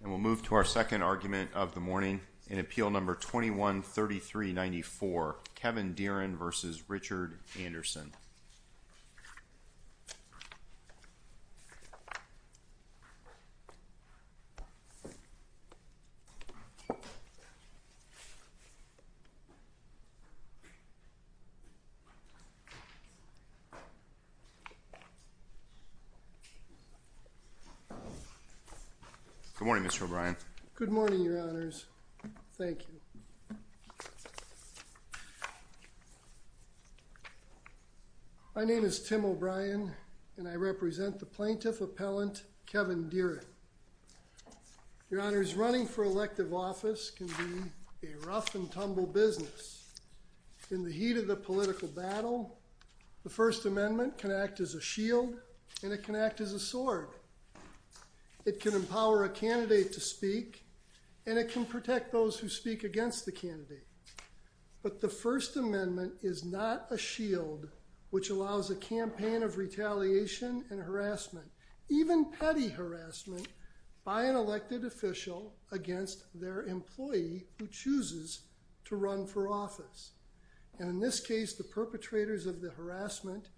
And we'll move to our second argument of the morning in Appeal Number 21-3394, Kevin Deeren v. Richard Anderson. Good morning, Mr. O'Brien. Good morning, Your Honors. Thank you. My name is Tim O'Brien and I represent the Plaintiff Appellant Kevin Deeren. Your Honors, running for elective office can be a rough and tumble business. In the heat of the political battle, the First Amendment can act as a shield and it can act as a sword. It can empower a candidate to speak and it can protect those who speak against the candidate. But the First Amendment is not a shield which allows a campaign of retaliation and harassment, even petty harassment, by an elected official against their employee who chooses to run for office. And in this case, the perpetrators of the harassment,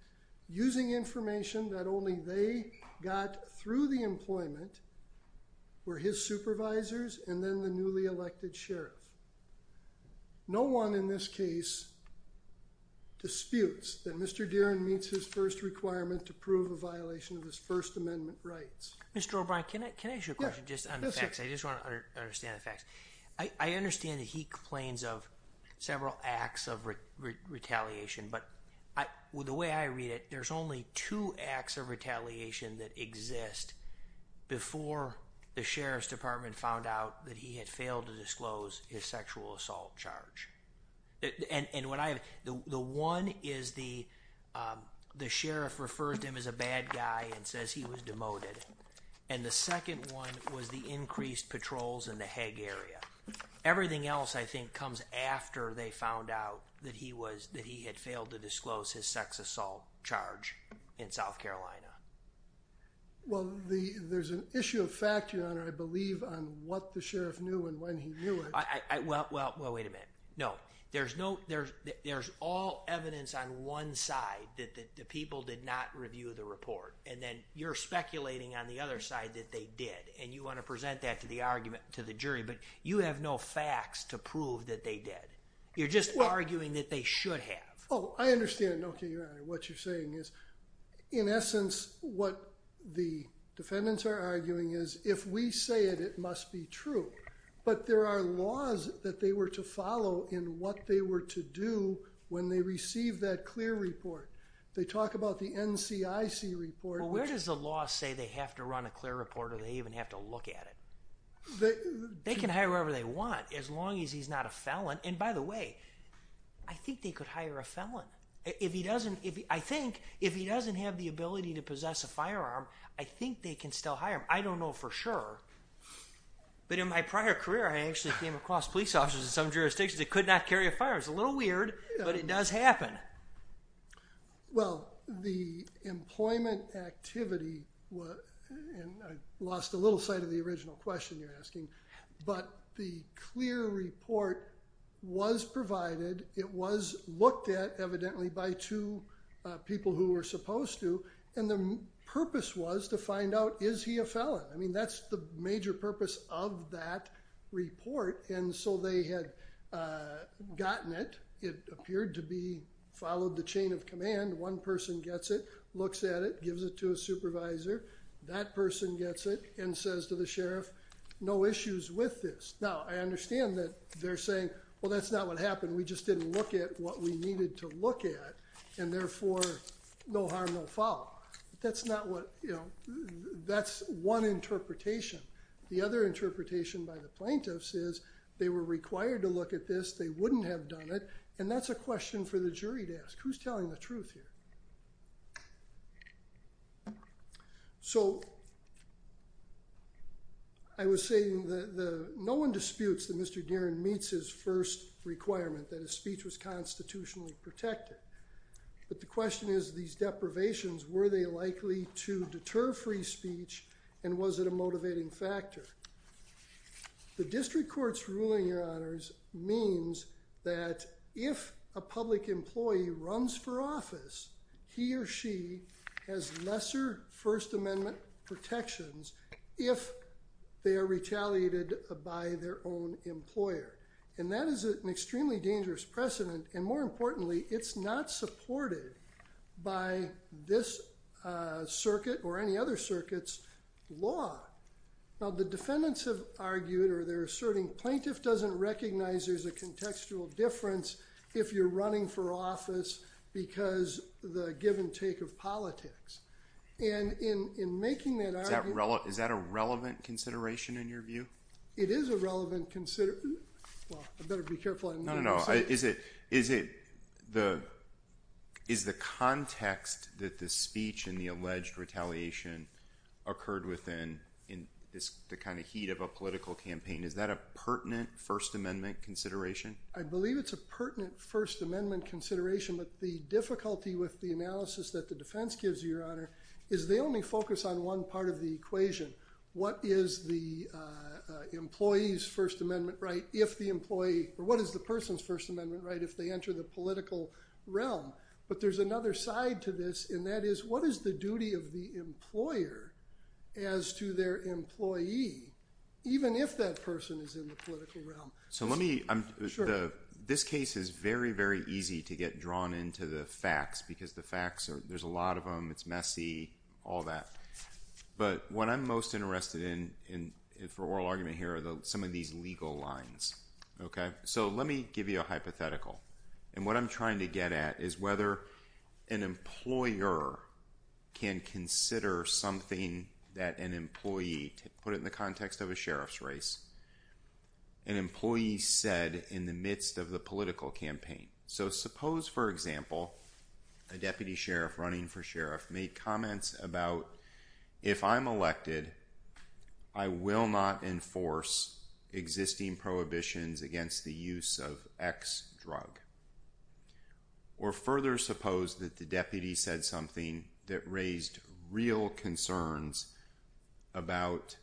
using information that only they got through the employment, were his supervisors and then the newly elected sheriff. No one in this case disputes that Mr. Deeren meets his first requirement to prove a violation of his First Amendment rights. Mr. O'Brien, can I ask you a question just on the facts? I just want to understand the facts. I understand that he complains of several acts of retaliation. But the way I read it, there's only two acts of retaliation that exist before the sheriff's department found out that he had failed to disclose his sexual assault charge. And the one is the sheriff refers to him as a bad guy and says he was demoted. And the second one was the increased patrols in the Hague area. Everything else, I think, comes after they found out that he had failed to disclose his sex assault charge in South Carolina. Well, there's an issue of fact, Your Honor, I believe, on what the sheriff knew and when he knew it. Well, wait a minute. No. There's all evidence on one side that the people did not review the report. And then you're speculating on the other side that they did. And you want to present that to the argument, to the jury. But you have no facts to prove that they did. You're just arguing that they should have. Oh, I understand, Your Honor, what you're saying is, in essence, what the defendants are arguing is if we say it, it must be true. But there are laws that they were to follow in what they were to do when they received that clear report. They talk about the NCIC report. Well, where does the law say they have to run a clear report or they even have to look at it? They can hire whoever they want as long as he's not a felon. And by the way, I think they could hire a felon. I think if he doesn't have the ability to possess a firearm, I think they can still hire him. I don't know for sure. But in my prior career, I actually came across police officers in some jurisdictions that could not carry a firearm. It's a little weird, but it does happen. Well, the employment activity, and I lost a little sight of the original question you're asking, but the clear report was provided. It was looked at, evidently, by two people who were supposed to. And the purpose was to find out, is he a felon? I mean, that's the major purpose of that report. And so they had gotten it. It appeared to be followed the chain of command. One person gets it, looks at it, gives it to a supervisor. That person gets it and says to the sheriff, no issues with this. Now, I understand that they're saying, well, that's not what happened. We just didn't look at what we needed to look at, and therefore, no harm, no foul. That's not what, you know, that's one interpretation. The other interpretation by the plaintiffs is they were required to look at this. They wouldn't have done it. And that's a question for the jury to ask. Who's telling the truth here? So I was saying that no one disputes that Mr. Deeren meets his first requirement, that his speech was constitutionally protected. But the question is, these deprivations, were they likely to deter free speech? And was it a motivating factor? The district court's ruling, Your Honors, means that if a public employee runs for office, he or she has lesser First Amendment protections if they are retaliated by their own employer. And that is an extremely dangerous precedent. And more importantly, it's not supported by this circuit or any other circuit's law. Now, the defendants have argued or they're asserting plaintiff doesn't recognize there's a contextual difference if you're running for office because the give and take of politics. And in making that argument... Is that a relevant consideration in your view? It is a relevant consideration. Well, I better be careful what I'm going to say. No, no, no. Is the context that the speech and the alleged retaliation occurred within the kind of heat of a political campaign, is that a pertinent First Amendment consideration? I believe it's a pertinent First Amendment consideration, but the difficulty with the analysis that the defense gives you, Your Honor, is they only focus on one part of the equation. What is the employee's First Amendment right if the employee... Or what is the person's First Amendment right if they enter the political realm? But there's another side to this, and that is what is the duty of the employer as to their employee, even if that person is in the political realm? So let me... Sure. This case is very, very easy to get drawn into the facts because the facts are... There's a lot of them. It's messy, all that. But what I'm most interested in for oral argument here are some of these legal lines. Okay? So let me give you a hypothetical. And what I'm trying to get at is whether an employer can consider something that an employee... Put it in the context of a sheriff's race. An employee said in the midst of the political campaign. So suppose, for example, a deputy sheriff running for sheriff made comments about, if I'm elected, I will not enforce existing prohibitions against the use of X drug. Or further suppose that the deputy said something that raised real concerns about...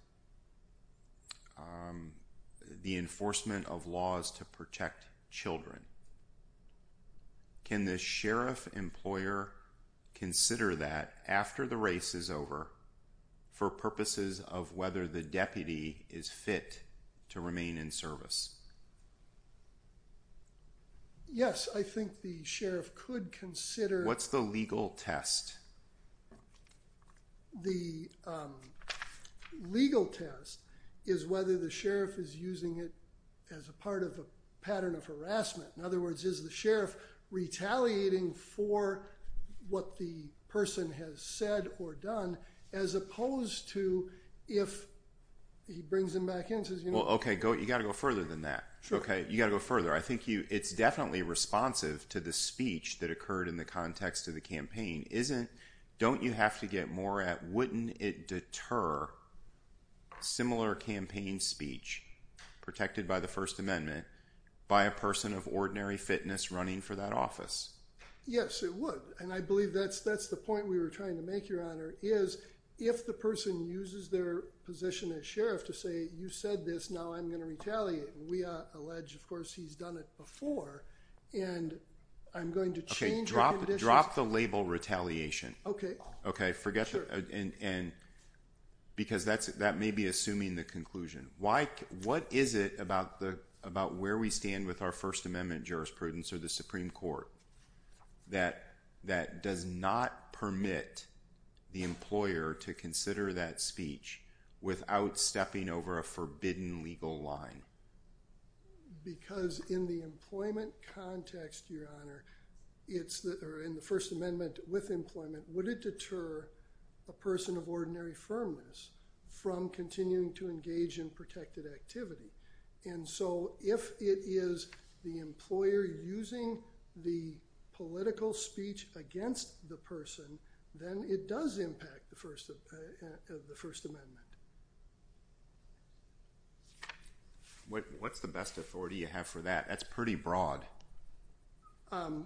Can the sheriff employer consider that after the race is over for purposes of whether the deputy is fit to remain in service? Yes, I think the sheriff could consider... What's the legal test? The legal test is whether the sheriff is using it as a part of a pattern of harassment. In other words, is the sheriff retaliating for what the person has said or done as opposed to if he brings them back in? Well, okay. You've got to go further than that. Okay? You've got to go further. I think it's definitely responsive to the speech that occurred in the context of the campaign. Don't you have to get more at wouldn't it deter similar campaign speech protected by the First Amendment by a person of ordinary fitness running for that office? Yes, it would. And I believe that's the point we were trying to make, Your Honor, is if the person uses their position as sheriff to say you said this, now I'm going to retaliate. We allege, of course, he's done it before. And I'm going to change... Okay, drop the label retaliation. Okay. Okay, forget that. Sure. Because that may be assuming the conclusion. What is it about where we stand with our First Amendment jurisprudence or the Supreme Court that does not permit the employer to consider that speech without stepping over a forbidden legal line? Because in the employment context, Your Honor, or in the First Amendment with employment, would it deter a person of ordinary firmness from continuing to engage in protected activity? And so if it is the employer using the political speech against the person, then it does impact the First Amendment. What's the best authority you have for that? That's pretty broad.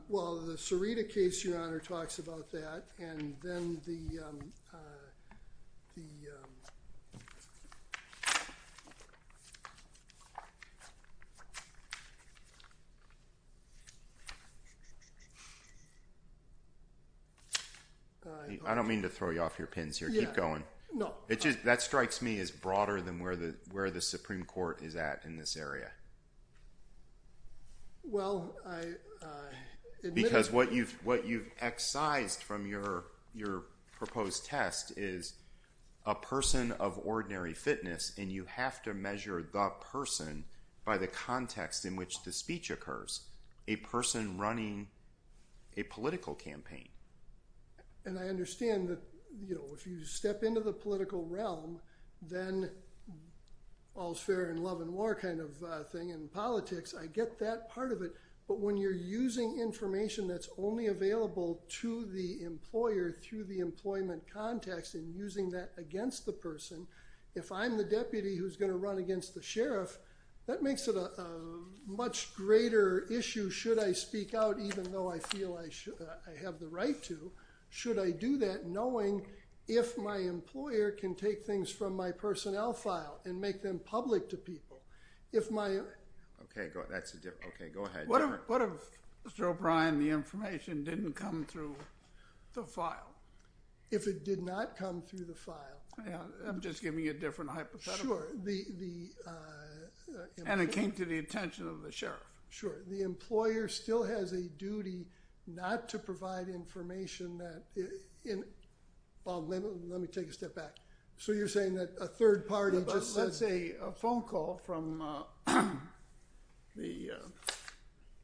Well, the Sarita case, Your Honor, talks about that, and then the... I don't mean to throw you off your pins here. Keep going. No. That strikes me as broader than where the Supreme Court is at in this area. Well, I... Because what you've excised from your proposed test is a person of ordinary fitness, and you have to measure the person by the context in which the speech occurs, a person running a political campaign. And I understand that, you know, if you step into the political realm, then all's fair in love and war kind of thing in politics. I get that part of it. But when you're using information that's only available to the employer through the employment context and using that against the person, if I'm the deputy who's going to run against the sheriff, that makes it a much greater issue. Should I speak out even though I feel I have the right to? Should I do that knowing if my employer can take things from my personnel file and make them public to people? Okay. Go ahead. What if, Mr. O'Brien, the information didn't come through the file? If it did not come through the file? I'm just giving you a different hypothetical. Sure. And it came to the attention of the sheriff. Sure. The employer still has a duty not to provide information that... Bob, let me take a step back. So you're saying that a third party just says... Let's say a phone call from the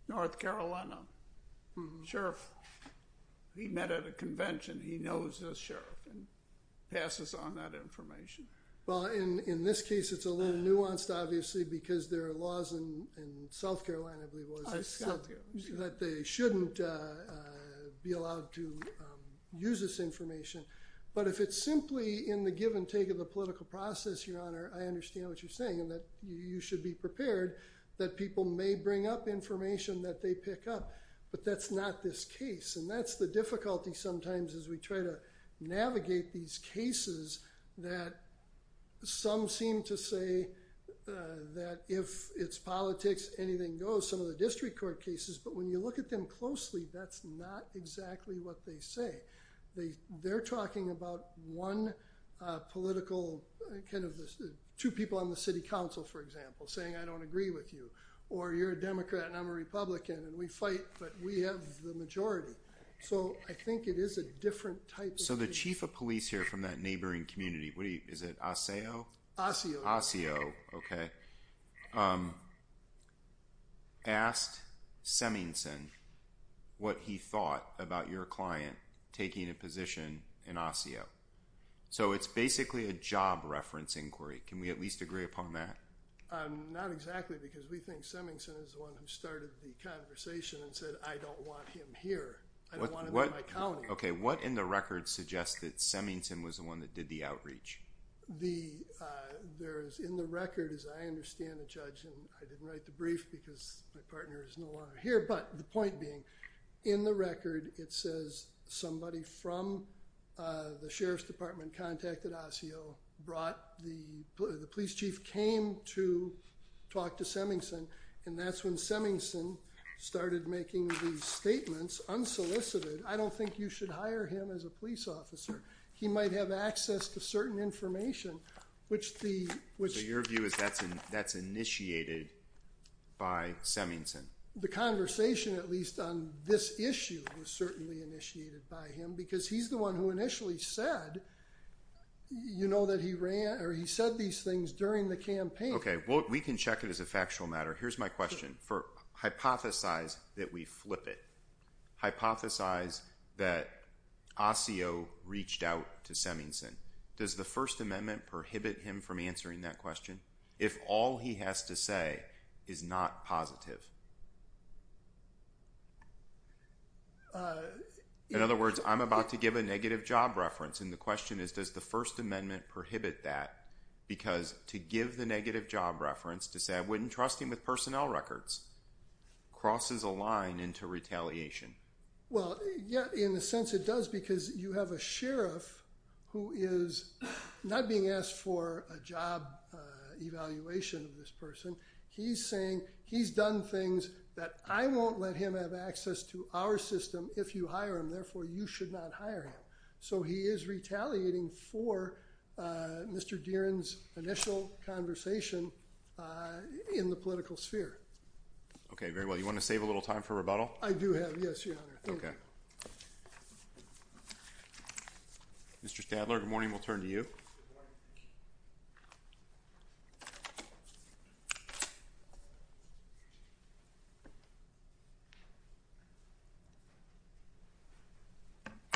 North Carolina sheriff. He met at a convention. He knows this sheriff and passes on that information. Well, in this case, it's a little nuanced, obviously, because there are laws in South Carolina, I believe it was, that they shouldn't be allowed to use this information. But if it's simply in the give and take of the political process, Your Honor, I understand what you're saying in that you should be prepared that people may bring up information that they pick up. But that's not this case. And that's the difficulty sometimes as we try to navigate these cases that some seem to say that if it's politics, anything goes. Some of the district court cases. But when you look at them closely, that's not exactly what they say. They're talking about one political... Two people on the city council, for example, saying, I don't agree with you. Or you're a Democrat and I'm a Republican and we fight, but we have the majority. So I think it is a different type of... So the chief of police here from that neighboring community... Is it Aseo? Aseo. Aseo, okay. Asked Semmingsen what he thought about your client taking a position in Aseo. So it's basically a job reference inquiry. Can we at least agree upon that? Not exactly, because we think Semmingsen is the one who started the conversation and said, I don't want him here. I don't want him in my county. Okay, what in the record suggests that Semmingsen was the one that did the outreach? There is in the record, as I understand it, Judge, and I didn't write the brief because my partner is no longer here, but the point being, in the record, it says somebody from the sheriff's department contacted Aseo, brought the police chief, came to talk to Semmingsen, and that's when Semmingsen started making these statements unsolicited. I don't think you should hire him as a police officer. He might have access to certain information. So your view is that's initiated by Semmingsen? The conversation, at least, on this issue was certainly initiated by him, because he's the one who initially said, you know, that he ran or he said these things during the campaign. Okay, well, we can check it as a factual matter. Here's my question. Hypothesize that we flip it. Hypothesize that Aseo reached out to Semmingsen. Does the First Amendment prohibit him from answering that question if all he has to say is not positive? In other words, I'm about to give a negative job reference, and the question is, does the First Amendment prohibit that? Because to give the negative job reference, to say I wouldn't trust him with personnel records, crosses a line into retaliation. Well, yeah, in a sense it does, because you have a sheriff who is not being asked for a job evaluation of this person. He's saying he's done things that I won't let him have access to our system if you hire him. Therefore, you should not hire him. So he is retaliating for Mr. Deeren's initial conversation in the political sphere. Okay, very well. You want to save a little time for rebuttal? I do have. Yes, Your Honor. Thank you. Mr. Stadler, good morning. We'll turn to you. Good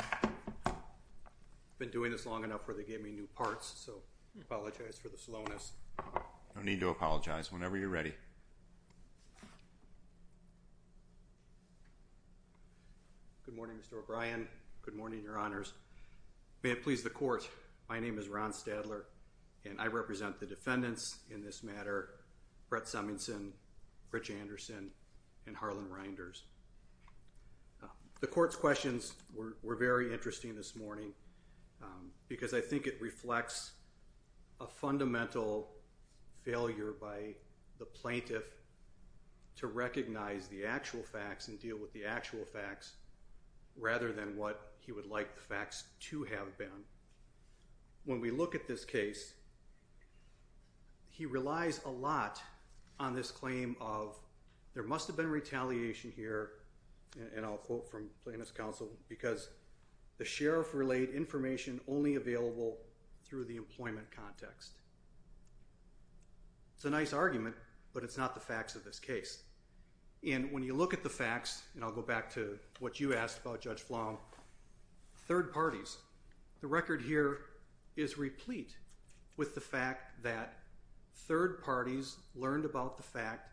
morning. I've been doing this long enough where they gave me new parts, so I apologize for the slowness. No need to apologize. Whenever you're ready. Good morning, Mr. O'Brien. Good morning, Your Honors. May it please the Court, my name is Ron Stadler, and I represent the defendants in this matter, Brett Summington, Rich Anderson, and Harlan Reinders. The Court's questions were very interesting this morning because I think it reflects a fundamental failure by the plaintiff to recognize the actual facts and deal with the actual facts rather than what he would like the facts to have been. When we look at this case, he relies a lot on this claim of, there must have been retaliation here, and I'll quote from Plaintiff's Counsel, because the sheriff relayed information only available through the employment context. It's a nice argument, but it's not the facts of this case. And when you look at the facts, and I'll go back to what you asked about Judge Flong, third parties, the record here is replete with the fact that third parties learned about the fact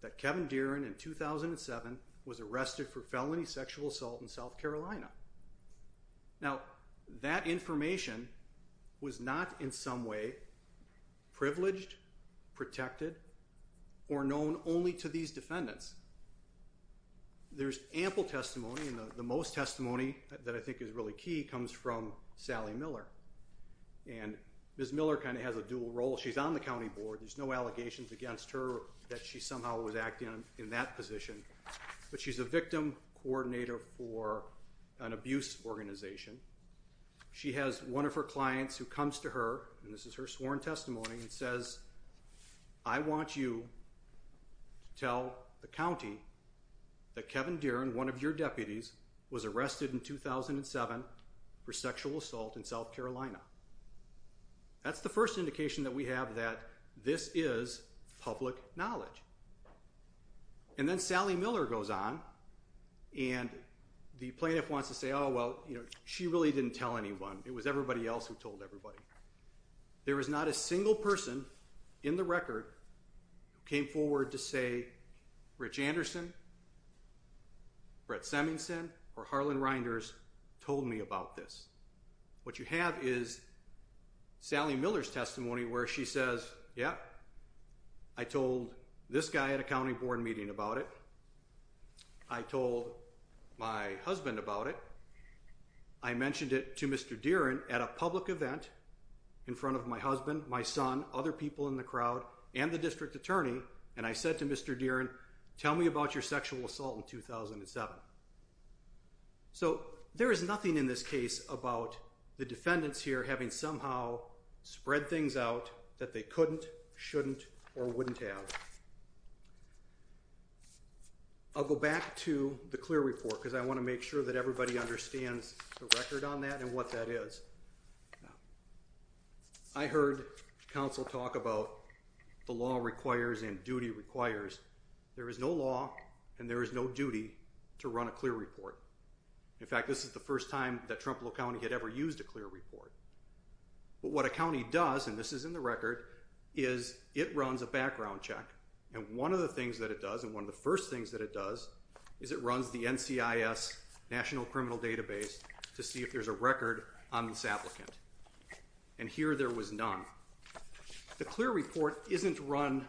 that Kevin Dearin in 2007 was arrested for felony sexual assault in South Carolina. Now, that information was not in some way privileged, protected, or known only to these defendants. There's ample testimony, and the most testimony that I think is really key comes from Sally Miller, and Ms. Miller kind of has a dual role. She's on the County Board. There's no allegations against her that she somehow was acting in that position, but she's a victim coordinator for an abuse organization. She has one of her clients who comes to her, and this is her sworn testimony, and says, I want you to tell the county that Kevin Dearin, one of your deputies, was arrested in 2007 for sexual assault in South Carolina. That's the first indication that we have that this is public knowledge. And then Sally Miller goes on, and the plaintiff wants to say, oh, well, you know, she really didn't tell anyone. It was everybody else who told everybody. There was not a single person in the record who came forward to say, Rich Anderson, Brett Semingsen, or Harlan Reinders told me about this. What you have is Sally Miller's testimony where she says, yeah, I told this guy at a County Board meeting about it. I told my husband about it. I mentioned it to Mr. Dearin at a public event in front of my husband, my son, other people in the crowd, and the district attorney, and I said to Mr. Dearin, tell me about your sexual assault in 2007. So there is nothing in this case about the defendants here having somehow spread things out that they couldn't, shouldn't, or wouldn't have. I'll go back to the clear report because I want to make sure that everybody understands the record on that and what that is. I heard counsel talk about the law requires and duty requires. There is no law and there is no duty to run a clear report. In fact, this is the first time that Trumplow County had ever used a clear report. But what a county does, and this is in the record, is it runs a background check. And one of the things that it does, and one of the first things that it does, is it runs the NCIS National Criminal Database to see if there's a record on this applicant. And here there was none. The clear report isn't run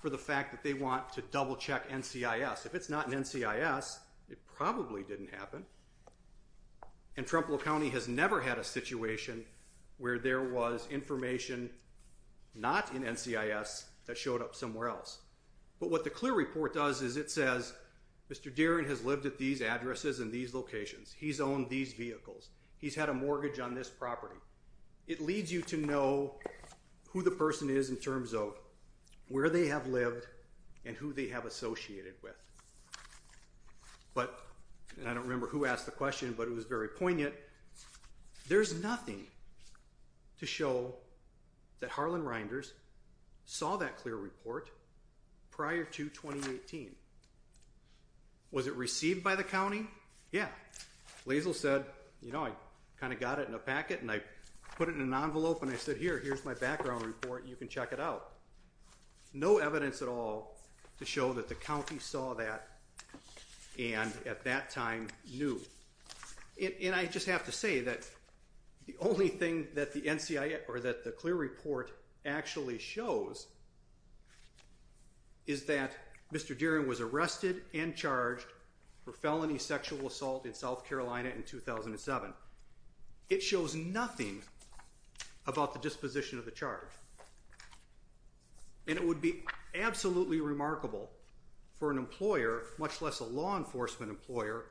for the fact that they want to double-check NCIS. If it's not in NCIS, it probably didn't happen. And Trumplow County has never had a situation where there was information not in NCIS that showed up somewhere else. But what the clear report does is it says, Mr. Dearin has lived at these addresses and these locations. He's owned these vehicles. He's had a mortgage on this property. It leads you to know who the person is in terms of where they have lived and who they have associated with. But, and I don't remember who asked the question, but it was very poignant, there's nothing to show that Harlan Reinders saw that clear report prior to 2018. Was it received by the county? Yeah. Laszlo said, you know, I kind of got it in a packet and I put it in an envelope and I said, here, here's my background report, you can check it out. No evidence at all to show that the county saw that and at that time knew. And I just have to say that the only thing that the NCIS, or that the clear report actually shows is that Mr. Dearin was arrested and charged for felony sexual assault in South Carolina in 2007. It shows nothing about the disposition of the charge. And it would be absolutely remarkable for an employer, much less a law enforcement employer,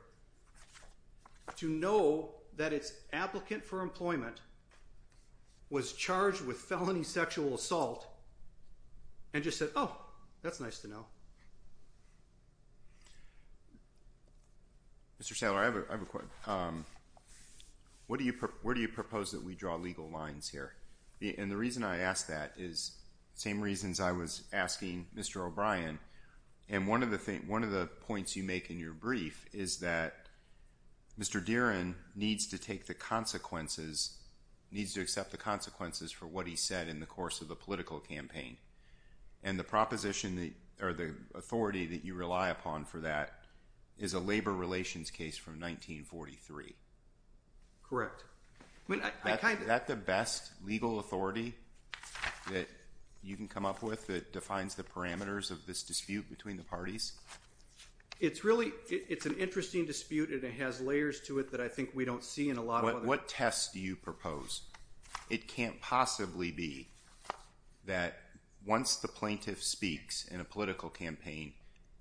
to know that its applicant for employment was charged with felony sexual assault and just said, oh, that's nice to know. Mr. Saylor, I have a question. Where do you propose that we draw legal lines here? And the reason I ask that is the same reasons I was asking Mr. O'Brien. And one of the points you make in your brief is that Mr. Dearin needs to take the consequences, needs to accept the consequences for what he said in the course of the political campaign. And the proposition or the authority that you rely upon for that is a labor relations case from 1943. Correct. I mean, is that the best legal authority that you can come up with that defines the parameters of this dispute between the parties? It's really an interesting dispute, and it has layers to it that I think we don't see in a lot of other cases. What tests do you propose? It can't possibly be that once the plaintiff speaks in a political campaign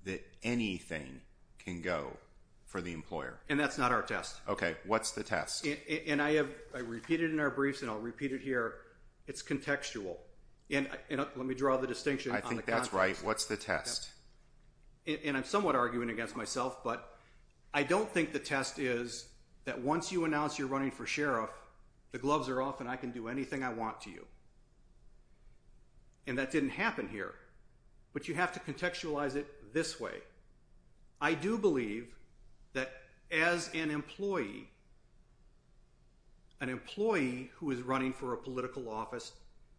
that anything can go for the employer. And that's not our test. Okay. What's the test? And I have repeated in our briefs, and I'll repeat it here, it's contextual. And let me draw the distinction on the context. I think that's right. What's the test? And I'm somewhat arguing against myself, but I don't think the test is that once you announce you're running for sheriff, the gloves are off and I can do anything I want to you. And that didn't happen here. But you have to contextualize it this way. I do believe that as an employee, an employee who is running for a political office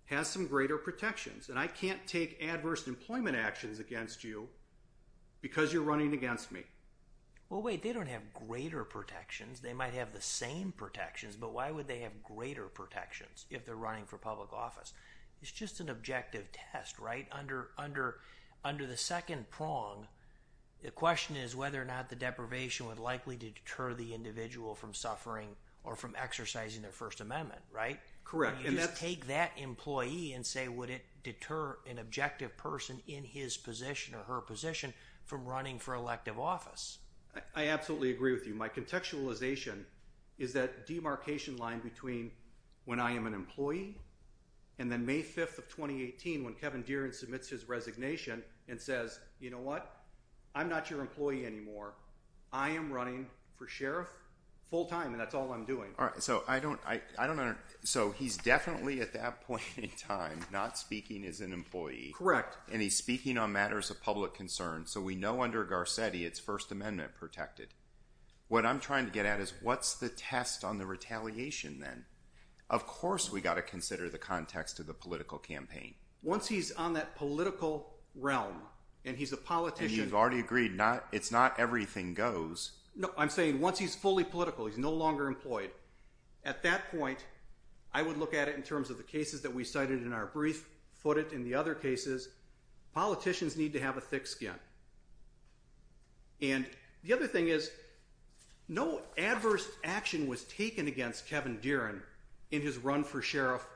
has some greater protections. And I can't take adverse employment actions against you because you're running against me. Well, wait, they don't have greater protections. They might have the same protections, but why would they have greater protections if they're running for public office? It's just an objective test, right? Under the second prong, the question is whether or not the deprivation would likely deter the individual from suffering or from exercising their First Amendment, right? Correct. You just take that employee and say, would it deter an objective person in his position or her position from running for elective office? I absolutely agree with you. My contextualization is that demarcation line between when I am an employee and then May 5th of 2018 when Kevin Deere and submits his resignation and says, you know what? I'm not your employee anymore. I am running for sheriff full time and that's all I'm doing. All right. So I don't I don't know. So he's definitely at that point in time not speaking as an employee. Correct. And he's speaking on matters of public concern. So we know under Garcetti, it's First Amendment protected. What I'm trying to get at is what's the test on the retaliation then? Of course, we've got to consider the context of the political campaign. Once he's on that political realm and he's a politician. And you've already agreed it's not everything goes. No, I'm saying once he's fully political, he's no longer employed. At that point, I would look at it in terms of the cases that we cited in our brief footed in the other cases. Politicians need to have a thick skin. And the other thing is no adverse action was taken against Kevin Deere and in his run for sheriff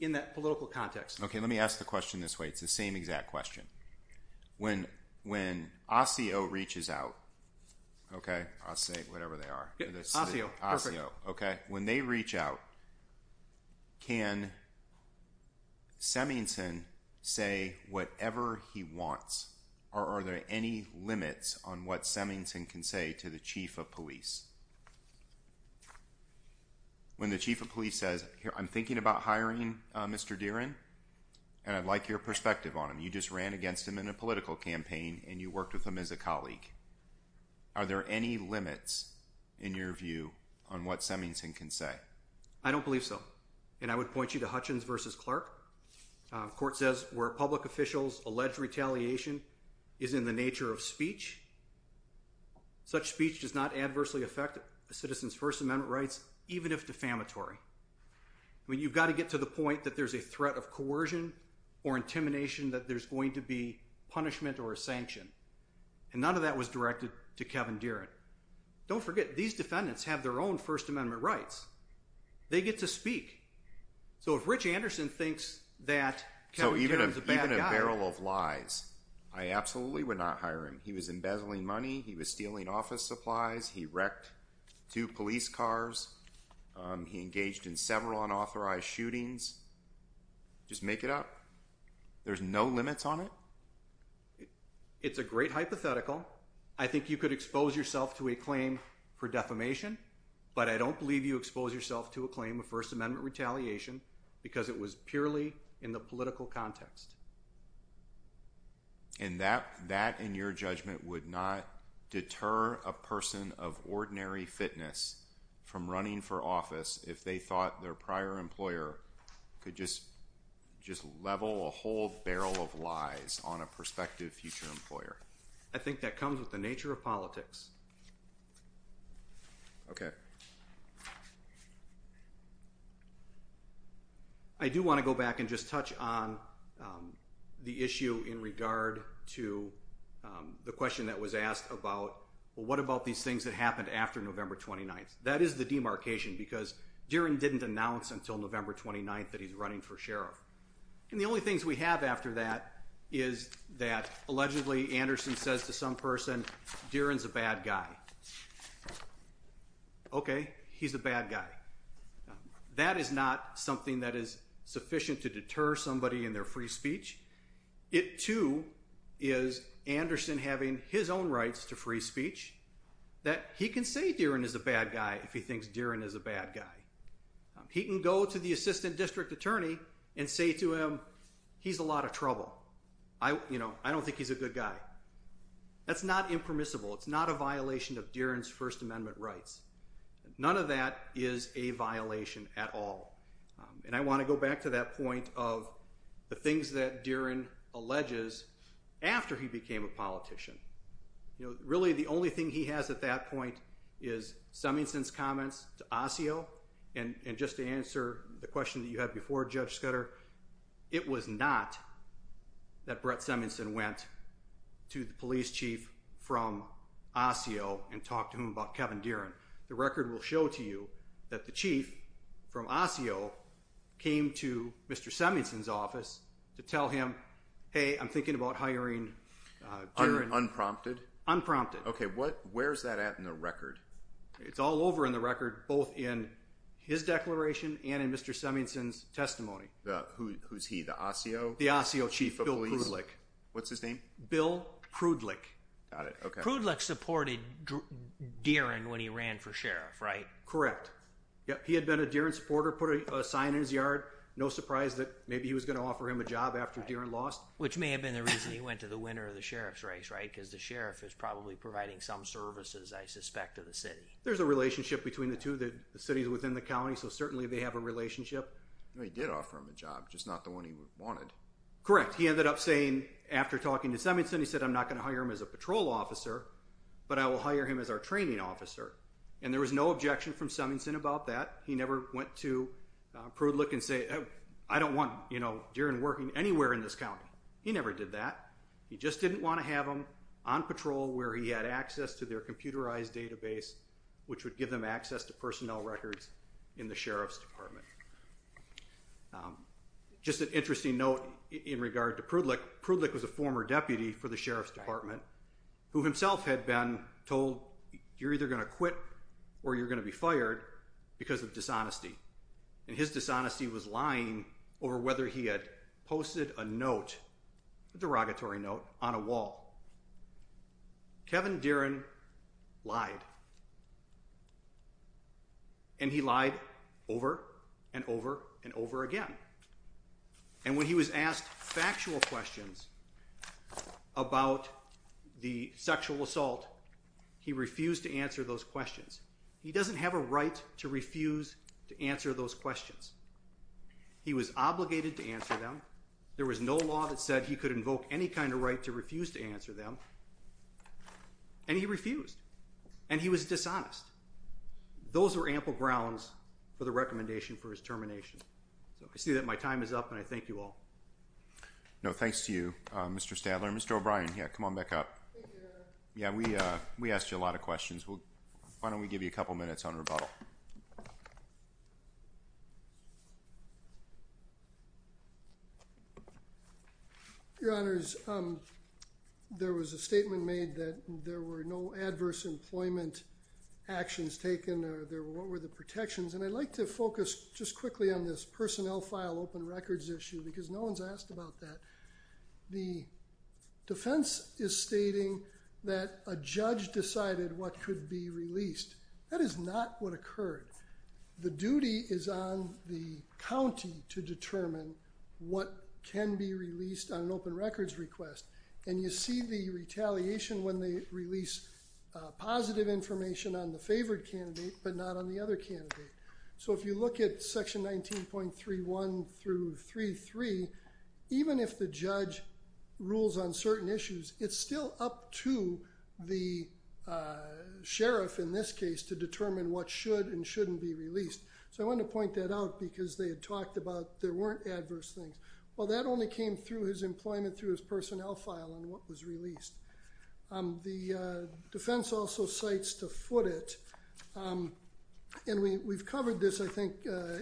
in that political context. OK, let me ask the question this way. It's the same exact question. When when Osceo reaches out. OK, I'll say whatever they are. Osceo. Osceo. OK. When they reach out. Can. Semington say whatever he wants. Are there any limits on what Semington can say to the chief of police? When the chief of police says, I'm thinking about hiring Mr. Deere in. And I'd like your perspective on him. You just ran against him in a political campaign and you worked with him as a colleague. Are there any limits in your view on what Semington can say? I don't believe so. And I would point you to Hutchins versus Clark. Court says where public officials allege retaliation is in the nature of speech. Such speech does not adversely affect a citizen's First Amendment rights, even if defamatory. I mean, you've got to get to the point that there's a threat of coercion or intimidation, that there's going to be punishment or a sanction. And none of that was directed to Kevin Deere. Don't forget, these defendants have their own First Amendment rights. They get to speak. So if Rich Anderson thinks that Kevin Deere is a bad guy. So even a barrel of lies. I absolutely would not hire him. He was embezzling money. He was stealing office supplies. He wrecked two police cars. He engaged in several unauthorized shootings. Just make it up. There's no limits on it. It's a great hypothetical. I think you could expose yourself to a claim for defamation. But I don't believe you expose yourself to a claim of First Amendment retaliation because it was purely in the political context. And that, in your judgment, would not deter a person of ordinary fitness from running for office if they thought their prior employer could just level a whole barrel of lies on a prospective future employer? I think that comes with the nature of politics. Okay. I do want to go back and just touch on the issue in regard to the question that was asked about, well, what about these things that happened after November 29th? That is the demarcation because Deere didn't announce until November 29th that he's running for sheriff. And the only things we have after that is that allegedly Anderson says to some person, Deere is a bad guy. Okay. He's a bad guy. That is not something that is sufficient to deter somebody in their free speech. It, too, is Anderson having his own rights to free speech that he can say Deere is a bad guy if he thinks Deere is a bad guy. He can go to the assistant district attorney and say to him, he's a lot of trouble. I don't think he's a good guy. That's not impermissible. It's not a violation of Deere's First Amendment rights. None of that is a violation at all. And I want to go back to that point of the things that Deere alleges after he became a politician. Really, the only thing he has at that point is Seminsen's comments to Osseo. And just to answer the question that you had before, Judge Skutter, it was not that Brett Seminsen went to the police chief from Osseo and talked to him about Kevin Deere. The record will show to you that the chief from Osseo came to Mr. Seminsen's office to tell him, hey, I'm thinking about hiring Deere. Unprompted? Unprompted. Okay, where's that at in the record? It's all over in the record, both in his declaration and in Mr. Seminsen's testimony. Who's he, the Osseo? The Osseo chief, Bill Prudlick. What's his name? Bill Prudlick. Prudlick supported Deere when he ran for sheriff, right? Correct. He had been a Deere supporter, put a sign in his yard. No surprise that maybe he was going to offer him a job after Deere lost. Which may have been the reason he went to the winner of the sheriff's race, right? Because the sheriff is probably providing some services, I suspect, to the city. There's a relationship between the two. The city's within the county, so certainly they have a relationship. He did offer him a job, just not the one he wanted. He ended up saying, after talking to Seminsen, he said, I'm not going to hire him as a patrol officer, but I will hire him as our training officer. And there was no objection from Seminsen about that. He never went to Prudlick and said, I don't want Deere working anywhere in this county. He never did that. He just didn't want to have him on patrol where he had access to their computerized database, which would give them access to personnel records in the sheriff's department. Just an interesting note in regard to Prudlick. Prudlick was a former deputy for the sheriff's department, who himself had been told, you're either going to quit or you're going to be fired because of dishonesty. And his dishonesty was lying over whether he had posted a note, a derogatory note, on a wall. Kevin Deeren lied. And he lied over and over and over again. And when he was asked factual questions about the sexual assault, he refused to answer those questions. He doesn't have a right to refuse to answer those questions. He was obligated to answer them. There was no law that said he could invoke any kind of right to refuse to answer them, and he refused. And he was dishonest. Those were ample grounds for the recommendation for his termination. So I see that my time is up, and I thank you all. No, thanks to you, Mr. Stadler. Mr. O'Brien, yeah, come on back up. Yeah, we asked you a lot of questions. Why don't we give you a couple minutes on rebuttal? Your Honors, there was a statement made that there were no adverse employment actions taken. What were the protections? And I'd like to focus just quickly on this personnel file open records issue, because no one's asked about that. The defense is stating that a judge decided what could be released. That is not what occurred. The duty is on the county to determine what can be released on an open records request. And you see the retaliation when they release positive information on the favored candidate but not on the other candidate. So if you look at Section 19.31 through 33, even if the judge rules on certain issues, it's still up to the sheriff, in this case, to determine what should and shouldn't be released. So I wanted to point that out because they had talked about there weren't adverse things. Well, that only came through his employment through his personnel file and what was released. The defense also cites to foot it. And we've covered this, I think,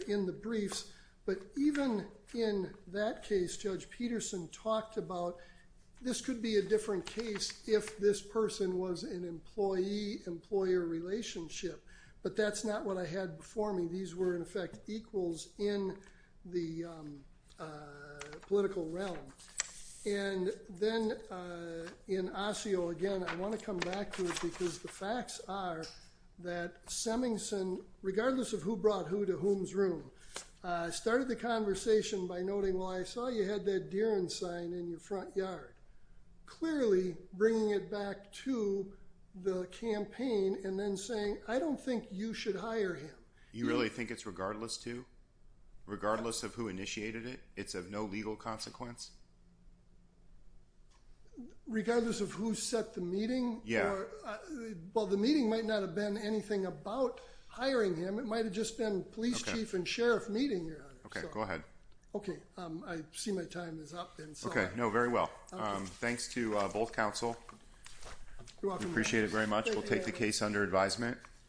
in the briefs. But even in that case, Judge Peterson talked about this could be a different case if this person was an employee-employer relationship. But that's not what I had before me. These were, in effect, equals in the political realm. And then in Osseo, again, I want to come back to it because the facts are that Semingson, regardless of who brought who to whom's room, started the conversation by noting, well, I saw you had that Dierens sign in your front yard, clearly bringing it back to the campaign and then saying, I don't think you should hire him. You really think it's regardless to regardless of who initiated it? It's of no legal consequence? Regardless of who set the meeting? Yeah. Well, the meeting might not have been anything about hiring him. It might have just been police chief and sheriff meeting. Go ahead. Okay. I see my time is up. Okay. No, very well. Thanks to both counsel. Appreciate it very much. We'll take the case under advisement.